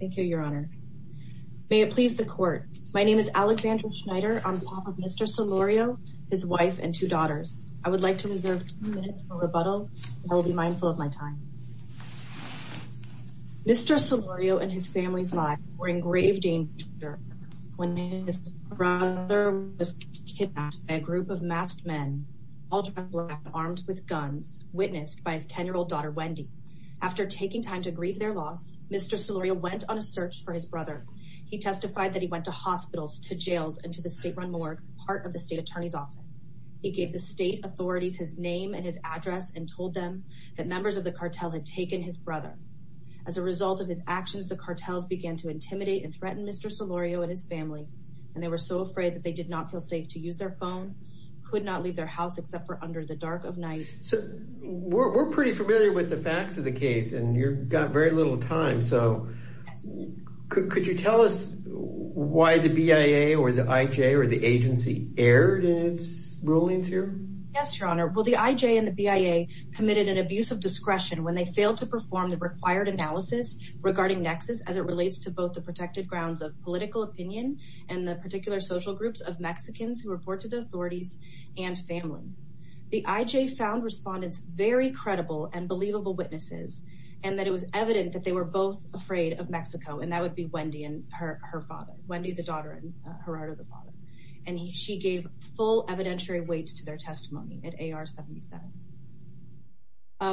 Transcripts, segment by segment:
Thank you, Your Honor. May it please the court. My name is Alexandra Schneider. I'm the father of Mr. Solorio, his wife and two daughters. I would like to reserve two minutes for rebuttal. I will be mindful of my time. Mr. Solorio and his family's lives were in grave danger when his brother was kidnapped by a group of masked men, all dressed in black, armed with guns, witnessed by his 10-year-old daughter, Wendy. After taking time to grieve their loss, Mr. Solorio went on a search for his brother. He testified that he went to hospitals, to jails, and to the state-run morgue, part of the state attorney's office. He gave the state authorities his name and his address and told them that members of the cartel had taken his brother. As a result of his actions, the cartels began to intimidate and threaten Mr. Solorio and his family, and they were so afraid that they did not feel safe to use their phone, could not leave their house except for under the dark of night. We're pretty familiar with the facts of the case, and you've got very little time, so could you tell us why the BIA or the IJ or the agency erred in its rulings here? Yes, Your Honor. Well, the IJ and the BIA committed an abuse of discretion when they failed to perform the required analysis regarding Nexus as it relates to both the protected grounds of political opinion and the particular social groups of Mexicans who report to the authorities and family. The IJ found respondents very credible and believable witnesses, and that it was evident that they were both afraid of Mexico, and that would be Wendy and her father, Wendy the daughter and Gerardo the father, and she gave full evidentiary weight to their testimony at AR-77.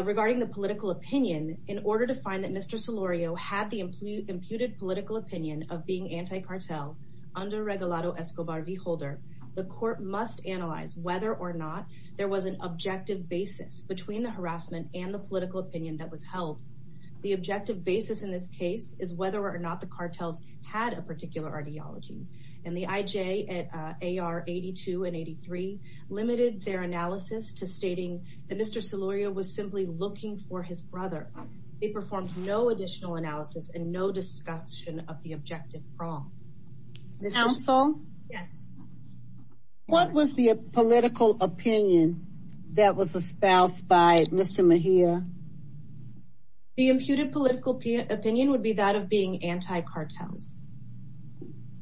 Regarding the political opinion, in order to find that Mr. Solorio had the imputed political opinion of being anti-cartel under Regulado Escobar v. Holder, the court must analyze whether or not there was an objective basis between the harassment and the political opinion that was held. The objective basis in this case is whether or not the cartels had a particular ideology, and the IJ at AR-82 and 83 limited their analysis to stating that Mr. Solorio was simply looking for his brother. They performed no additional analysis and no discussion of the objective wrong. Counsel? Yes. What was the political opinion that was espoused by Mr. Mejia? The imputed political opinion would be that of being anti-cartels.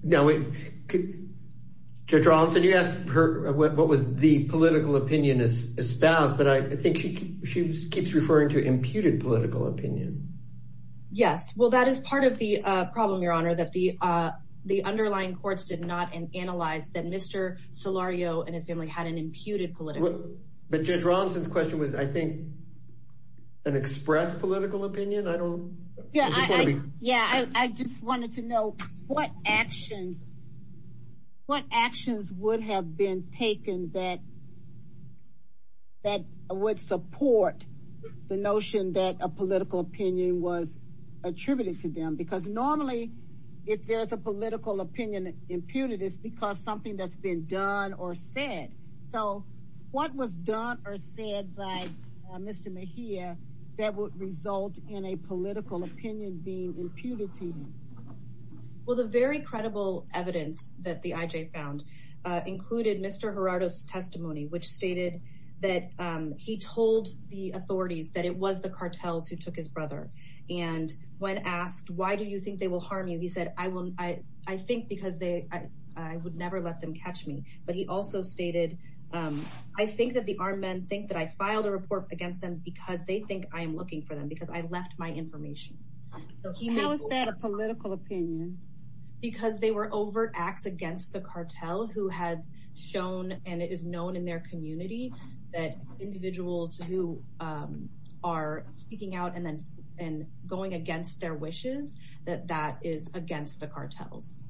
Now, Judge Rawlinson, you asked what was the political opinion espoused, but I think she keeps referring to imputed political opinion. Yes, well, that is part of the problem, Your Honor, that the underlying courts did not analyze that Mr. Solorio and his family had an imputed political opinion. But Judge Rawlinson's question was, I think, an expressed political opinion? Yeah, I just wanted to know what actions would have been taken that would support the notion that a political opinion was attributed to them? Because normally, if there's a political opinion imputed, it's because something that's been done or said. So what was done or said by Mr. Mejia that would result in a political opinion being imputed to him? Well, the very credible evidence that the IJ found included Mr. Gerardo's testimony, which stated that he told the authorities that it was the cartels who took his brother. And when asked, why do you think they will harm you? He said, I think because I would never let them catch me. But he also stated, I think that the armed men think that I filed a report against them because they think I am looking for them, because I left my information. How is that a political opinion? Because they were overt acts against the cartel who had shown, and it is known in their community, that individuals who are speaking out and going against their wishes, that that is against the cartels.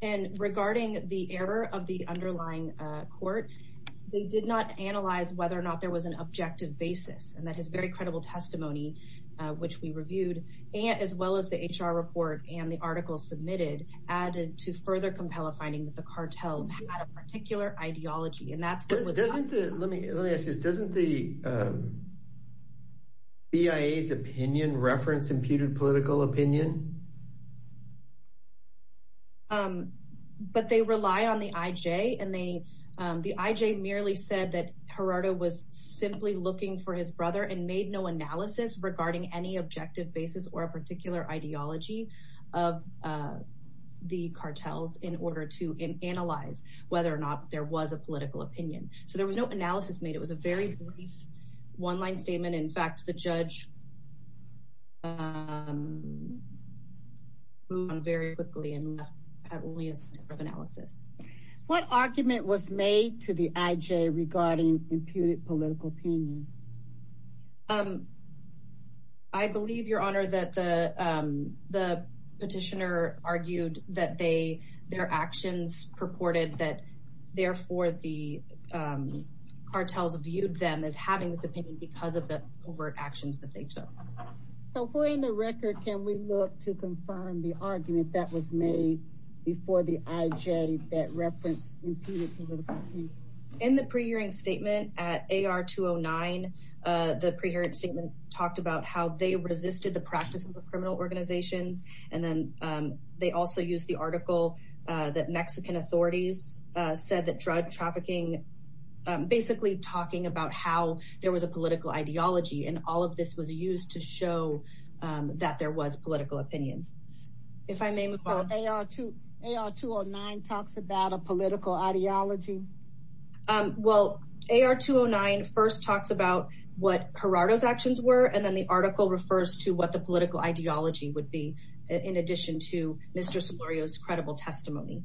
And regarding the error of the underlying court, they did not analyze whether or not there was an objective basis. And that is very credible testimony, which we reviewed, as well as the HR report and the article submitted, added to further compel a finding that the cartels had a particular ideology. Let me ask you this, doesn't the BIA's opinion reference imputed political opinion? But they rely on the IJ, and the IJ merely said that Gerardo was simply looking for his brother and made no analysis regarding any objective basis or a particular ideology of the cartels in order to analyze whether or not there was a political opinion. So there was no analysis made, it was a very brief one-line statement. In fact, the judge moved on very quickly and had only a step of analysis. What argument was made to the IJ regarding imputed political opinion? I believe, Your Honor, that the petitioner argued that their actions purported that, therefore, the cartels viewed them as having this opinion because of the overt actions that they took. So for the record, can we look to confirm the argument that was made before the IJ that referenced imputed political opinion? In the pre-hearing statement at AR 209, the pre-hearing statement talked about how they resisted the practices of criminal organizations, and then they also used the article that Mexican authorities said that drug trafficking, basically talking about how there was a political ideology, and all of this was used to show that there was political opinion. AR 209 talks about a political ideology? Well, AR 209 first talks about what Gerardo's actions were, and then the article refers to what the political ideology would be, in addition to Mr. Solorio's credible testimony.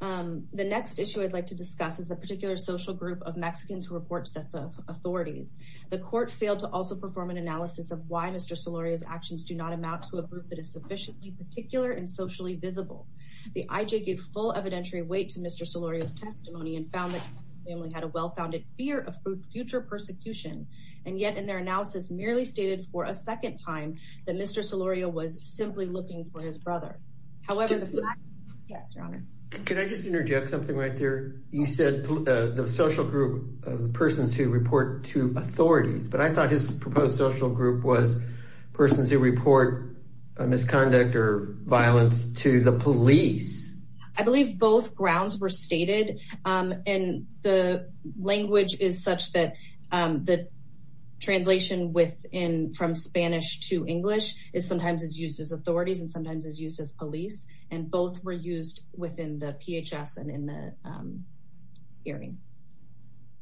The next issue I'd like to discuss is a particular social group of Mexicans who reports that the authorities, the court failed to also perform an analysis of why Mr. Solorio's actions do not amount to a group that is sufficiently particular and socially visible. The IJ gave full evidentiary weight to Mr. Solorio's testimony and found that they only had a well-founded fear of future persecution, and yet in their analysis merely stated for a second time that Mr. Solorio was simply looking for his brother. Can I just interject something right there? You said the social group of persons who report to authorities, but I thought his proposed social group was persons who report misconduct or violence to the police. I believe both grounds were stated, and the language is such that the translation from Spanish to English is sometimes used as authorities and sometimes used as police, and both were used within the PHS and in the hearing.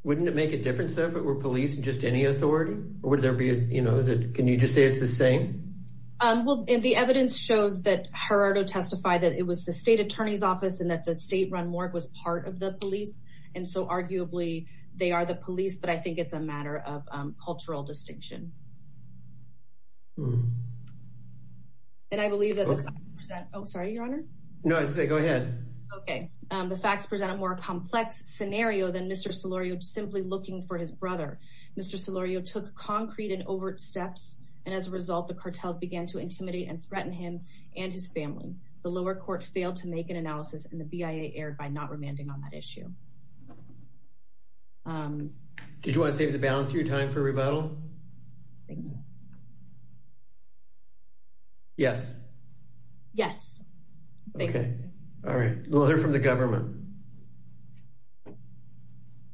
Wouldn't it make a difference if it were police and just any authority? Can you just say it's the same? Well, the evidence shows that Gerardo testified that it was the state attorney's office and that the state-run morgue was part of the police, and so arguably they are the police, but I think it's a matter of cultural distinction. And I believe that the facts present a more complex scenario than Mr. Solorio simply looking for his brother. Mr. Solorio took concrete and overt steps, and as a result, the cartels began to intimidate and threaten him and his family. The lower court failed to make an analysis, and the BIA erred by not remanding on that issue. Did you want to save the balance of your time for rebuttal? Yes. Yes. Good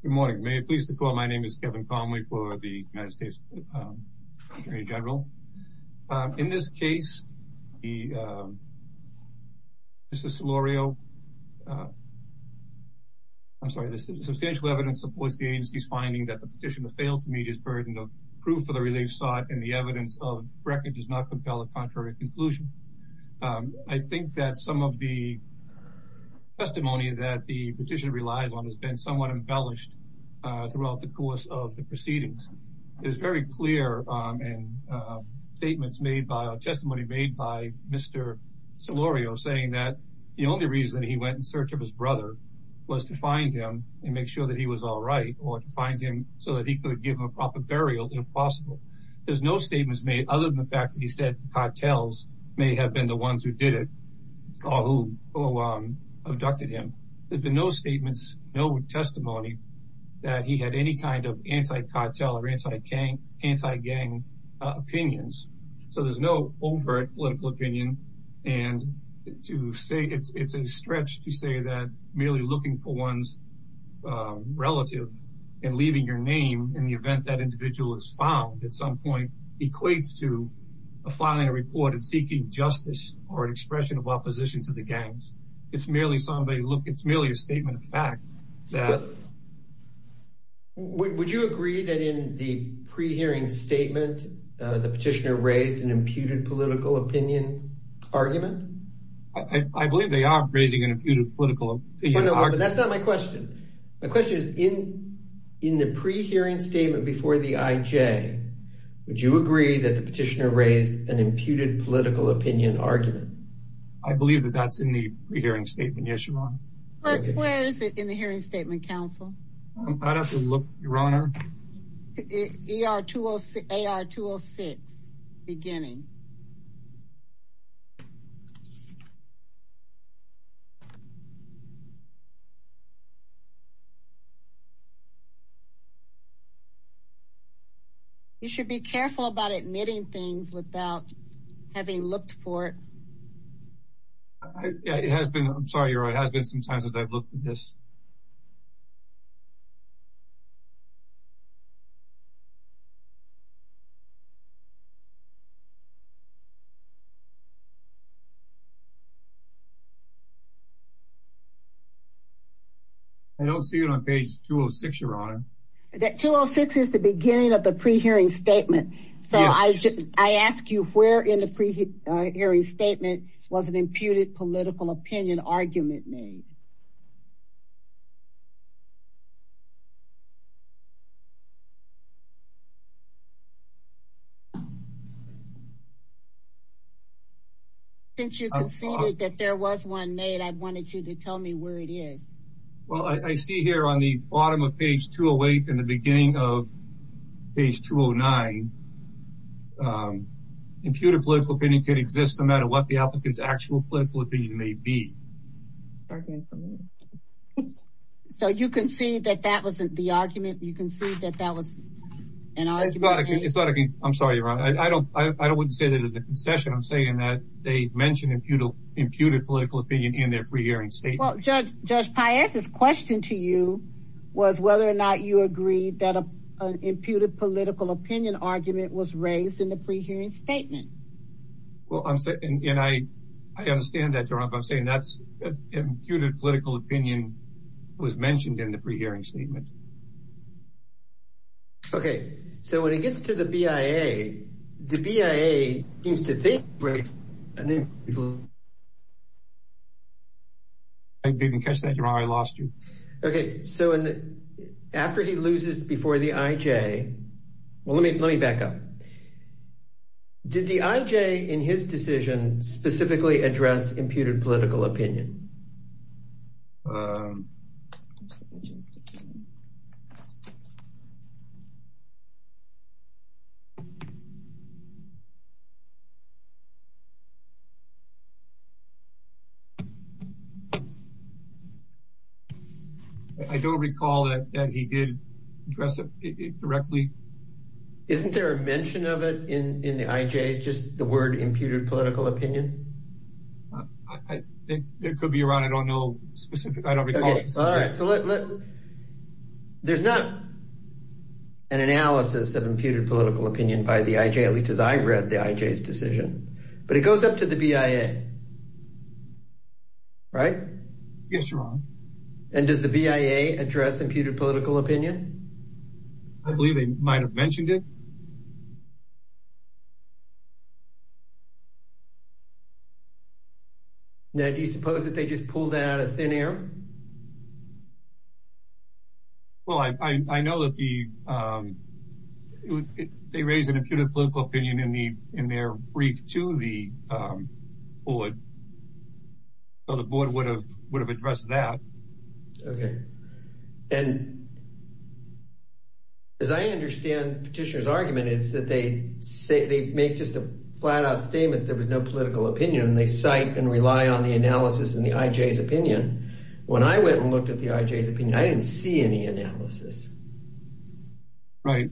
morning. May I be pleased to call? My name is Kevin Conway for the United States Attorney General. In this case, Mr. Solorio, I'm sorry, there's substantial evidence supports the agency's finding that the petitioner failed to meet his burden of proof of the relief sought and the evidence of record does not compel a contrary conclusion. I think that some of the testimony that the petitioner relies on has been somewhat embellished throughout the course of the proceedings. It was very clear in statements made by, testimony made by Mr. Solorio saying that the only reason he went in search of his brother was to find him and make sure that he was all right or to find him so that he could give him a proper burial if possible. There's no statements made other than the fact that he said cartels may have been the ones who did it or who abducted him. There's been no statements, no testimony that he had any kind of anti-cartel or anti-gang opinions. So there's no overt political opinion and to say it's a stretch to say that merely looking for one's relative and leaving your name in the event that individual is found at some point equates to a filing a report and seeking justice or an expression of opposition to the gangs. It's merely a statement of fact. Would you agree that in the pre-hearing statement the petitioner raised an imputed political opinion argument? I believe they are raising an imputed political opinion argument. But that's not my question. My question is in the pre-hearing statement before the IJ would you agree that the petitioner raised an imputed political opinion argument? I believe that that's in the pre-hearing statement. Yes, Your Honor. But where is it in the hearing statement, counsel? I'd have to look, Your Honor. AR-206, beginning. You should be careful about admitting things without having looked for it. I'm sorry, Your Honor. It has been some times as I've looked at this. I don't see it on page 206, Your Honor. 206 is the beginning of the pre-hearing statement. So I ask you where in the pre-hearing statement was an imputed political opinion argument made? Since you conceded that there was one made, I wanted you to tell me where it is. Well, I see here on the bottom of page 208 and the beginning of page 209. Imputed political opinion could exist no matter what the applicant's actual political opinion may be. So you concede that that wasn't the argument? You concede that that was an argument? I'm sorry, Your Honor. I wouldn't say that as a concession. I'm saying that they mentioned imputed political opinion in their pre-hearing statement. Well, Judge Paez's question to you was whether or not you agreed that an imputed political opinion argument was raised in the pre-hearing statement. And I understand that, Your Honor. But I'm saying that an imputed political opinion was mentioned in the pre-hearing statement. Okay. So when it gets to the BIA, the BIA seems to think… I didn't catch that, Your Honor. I lost you. Okay. So after he loses before the IJ – well, let me back up. Did the IJ in his decision specifically address imputed political opinion? I don't recall that he did address it directly. Isn't there a mention of it in the IJ, just the word imputed political opinion? There could be, Your Honor. I don't know specific – I don't recall. Okay. All right. So let – there's not an analysis of imputed political opinion by the IJ, at least as I read the IJ's decision. But it goes up to the BIA, right? Yes, Your Honor. And does the BIA address imputed political opinion? I believe they might have mentioned it. Now, do you suppose that they just pulled that out of thin air? Well, I know that the – they raised an imputed political opinion in their brief to the board, so the board would have addressed that. Okay. And as I understand Petitioner's argument, it's that they make just a flat-out statement there was no political opinion, and they cite and rely on the analysis in the IJ's opinion. When I went and looked at the IJ's opinion, I didn't see any analysis. Right.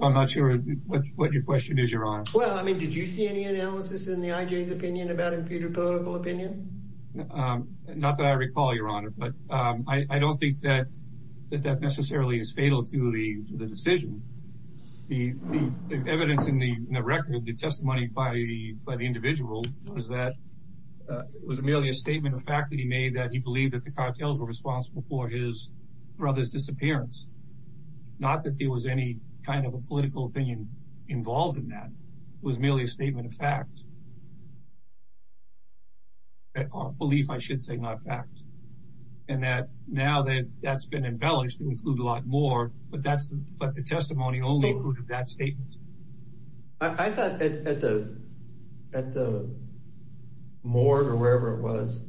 I'm not sure what your question is, Your Honor. Well, I mean, did you see any analysis in the IJ's opinion about imputed political opinion? Not that I recall, Your Honor. But I don't think that that necessarily is fatal to the decision. The evidence in the record, the testimony by the individual, was that it was merely a statement of fact that he made that he believed that the cartels were responsible for his brother's disappearance, not that there was any kind of a political opinion involved in that. It was merely a statement of fact. A belief, I should say, not a fact. And now that that's been embellished, it would include a lot more, but the testimony only included that statement. I thought at the morgue or wherever it was,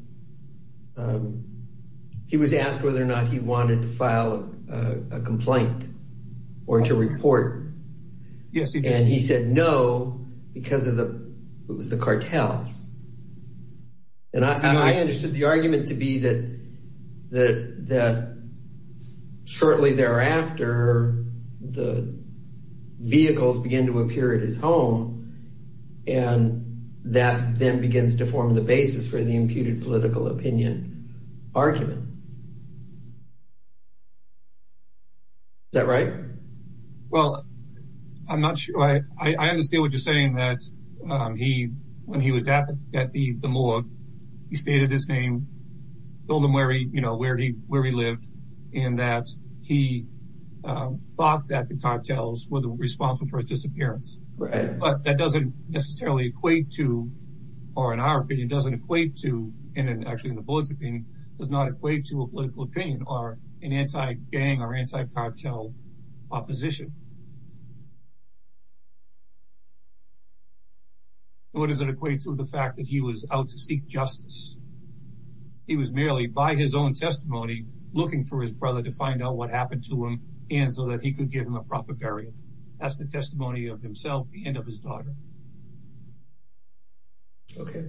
he was asked whether or not he wanted to file a complaint or to report. Yes, he did. And he said no because of the cartels. And I understood the argument to be that shortly thereafter, the vehicles begin to appear at his home, and that then begins to form the basis for the imputed political opinion argument. Is that right? Well, I'm not sure. I understand what you're saying, that when he was at the morgue, he stated his name, told them where he lived, and that he thought that the cartels were responsible for his disappearance. But that doesn't necessarily equate to, or in our opinion, doesn't equate to, and actually in the board's opinion, does not equate to a political opinion or an anti-gang or anti-cartel opposition. Nor does it equate to the fact that he was out to seek justice. He was merely, by his own testimony, looking for his brother to find out what happened to him and so that he could give him a proper burial. That's the testimony of himself and of his daughter. Okay.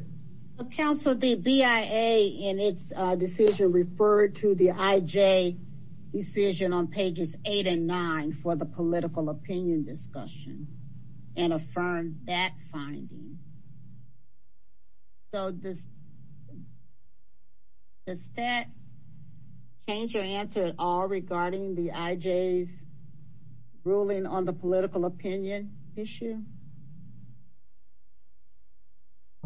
Counsel, the BIA in its decision referred to the IJ decision on pages 8 and 9 for the political opinion discussion and affirmed that finding. So does that change your answer at all regarding the IJ's ruling on the political opinion issue?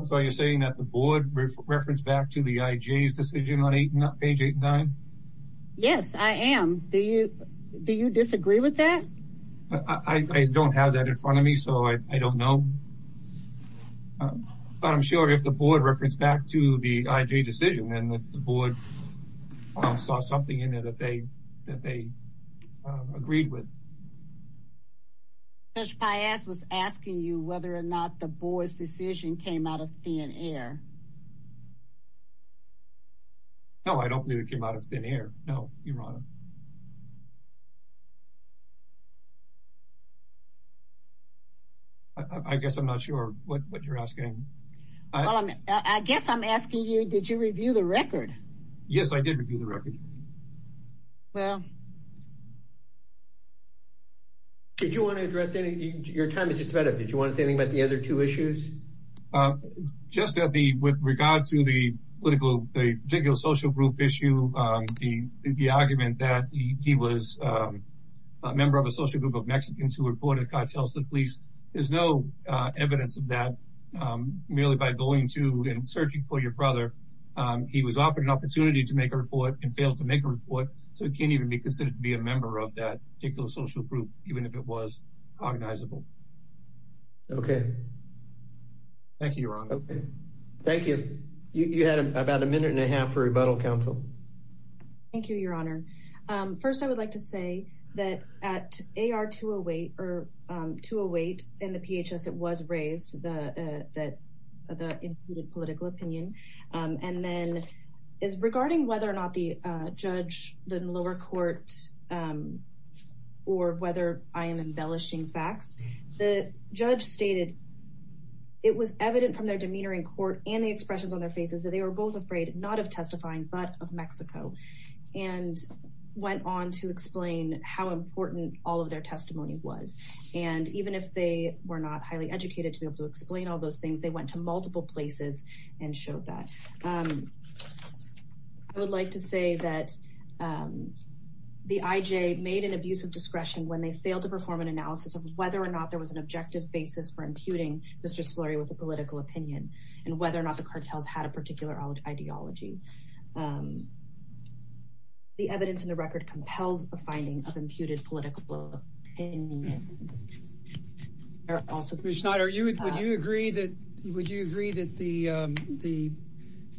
So you're saying that the board referenced back to the IJ's decision on page 8 and 9? Yes, I am. Do you disagree with that? I don't have that in front of me, so I don't know. But I'm sure if the board referenced back to the IJ decision, then the board saw something in there that they agreed with. Judge Piaz was asking you whether or not the board's decision came out of thin air. No, I don't believe it came out of thin air. No, Your Honor. I guess I'm not sure what you're asking. I guess I'm asking you, did you review the record? Yes, I did review the record. Well... Did you want to address anything? Your time is just about up. Did you want to say anything about the other two issues? Just that with regard to the political, the particular social group issue, the argument that he was a member of a social group of Mexicans who reported cartels to the police, there's no evidence of that. Merely by going to and searching for your brother, he was offered an opportunity to make a report and failed to make a report, so he can't even be considered to be a member of that particular social group, even if it was cognizable. Okay. Thank you, Your Honor. Thank you. You had about a minute and a half for rebuttal, counsel. Thank you, Your Honor. First, I would like to say that at AR 208, in the PHS, it was raised that the included political opinion. And then, as regarding whether or not the judge, the lower court, or whether I am embellishing facts, the judge stated, it was evident from their demeanor in court and the expressions on their faces that they were both afraid, not of testifying, but of Mexico, and went on to explain how important all of their testimony was. And even if they were not highly educated to be able to explain all those things, they went to multiple places and showed that. I would like to say that the IJ made an abuse of discretion when they failed to perform an analysis of whether or not there was an objective basis for imputing Mr. Solari with a political opinion, and whether or not the cartels had a particular ideology. The evidence in the record compels a finding of imputed political opinion. Also, Ms. Schneider, would you agree that the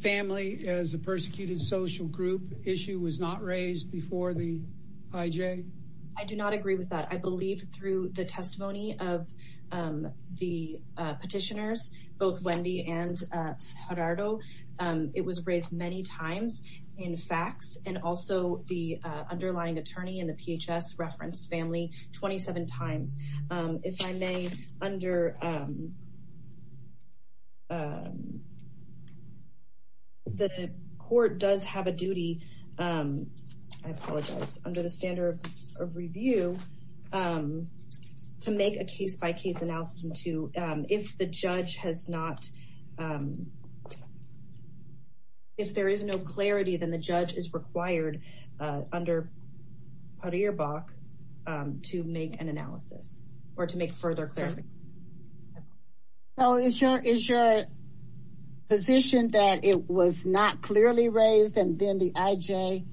family as a persecuted social group issue was not raised before the IJ? I do not agree with that. I believe through the testimony of the petitioners, both Wendy and Gerardo, it was raised many times in facts. And also, the underlying attorney in the PHS referenced family 27 times. If I may, the court does have a duty, I apologize, under the standard of review, to make a case-by-case analysis. If there is no clarity, then the judge is required under Parirboc to make an analysis or to make further clarification. So is your position that it was not clearly raised and then the IJ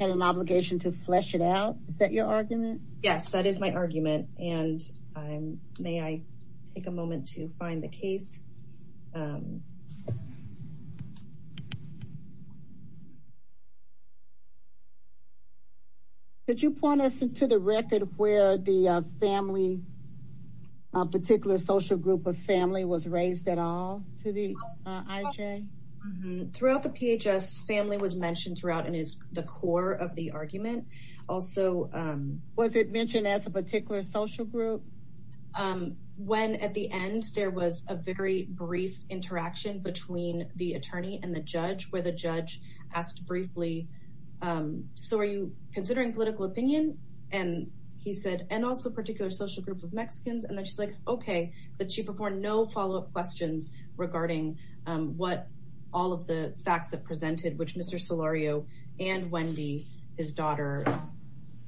had an obligation to flesh it out? Is that your argument? Yes, that is my argument. And may I take a moment to find the case? Could you point us to the record where the family, a particular social group of family, was raised at all to the IJ? Throughout the PHS, family was mentioned throughout and is the core of the argument. Was it mentioned as a particular social group? When at the end, there was a very brief interaction between the attorney and the judge where the judge asked briefly, So are you considering political opinion? And he said, and also a particular social group of Mexicans. And then she's like, okay, but she performed no follow-up questions regarding what all of the facts that presented, which Mr. Solario and Wendy, his daughter,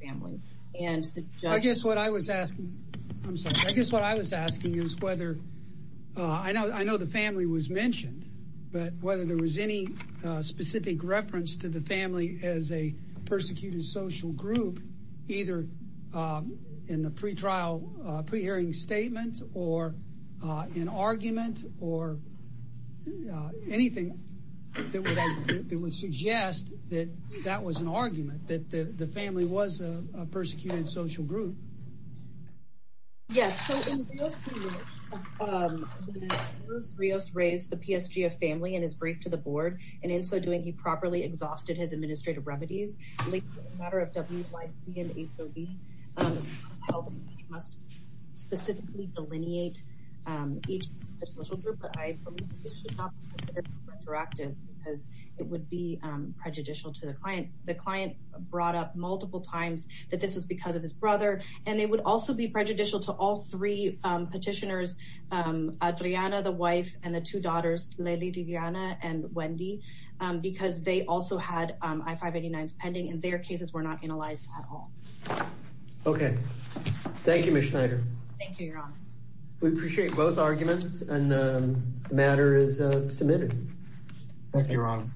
family. I guess what I was asking, I'm sorry, I guess what I was asking is whether, I know the family was mentioned, but whether there was any specific reference to the family as a persecuted social group, either in the pre-trial pre-hearing statements or an argument or anything that would suggest that that was an argument, that the family was a persecuted social group. Yes, so in Rios-Rios, Rios raised the PSG of family in his brief to the board, and in so doing, he properly exhausted his administrative remedies. In the matter of WYC and 830, it was held that he must specifically delineate each social group, but I believe it should not be considered retroactive because it would be prejudicial to the client. The client brought up multiple times that this was because of his brother, and it would also be prejudicial to all three petitioners, Adriana, the wife, and the two daughters, Lely Diviana and Wendy, because they also had I-589s pending, and their cases were not analyzed at all. Okay. Thank you, Ms. Schneider. Thank you, Your Honor. We appreciate both arguments, and the matter is submitted. Thank you, Your Honor.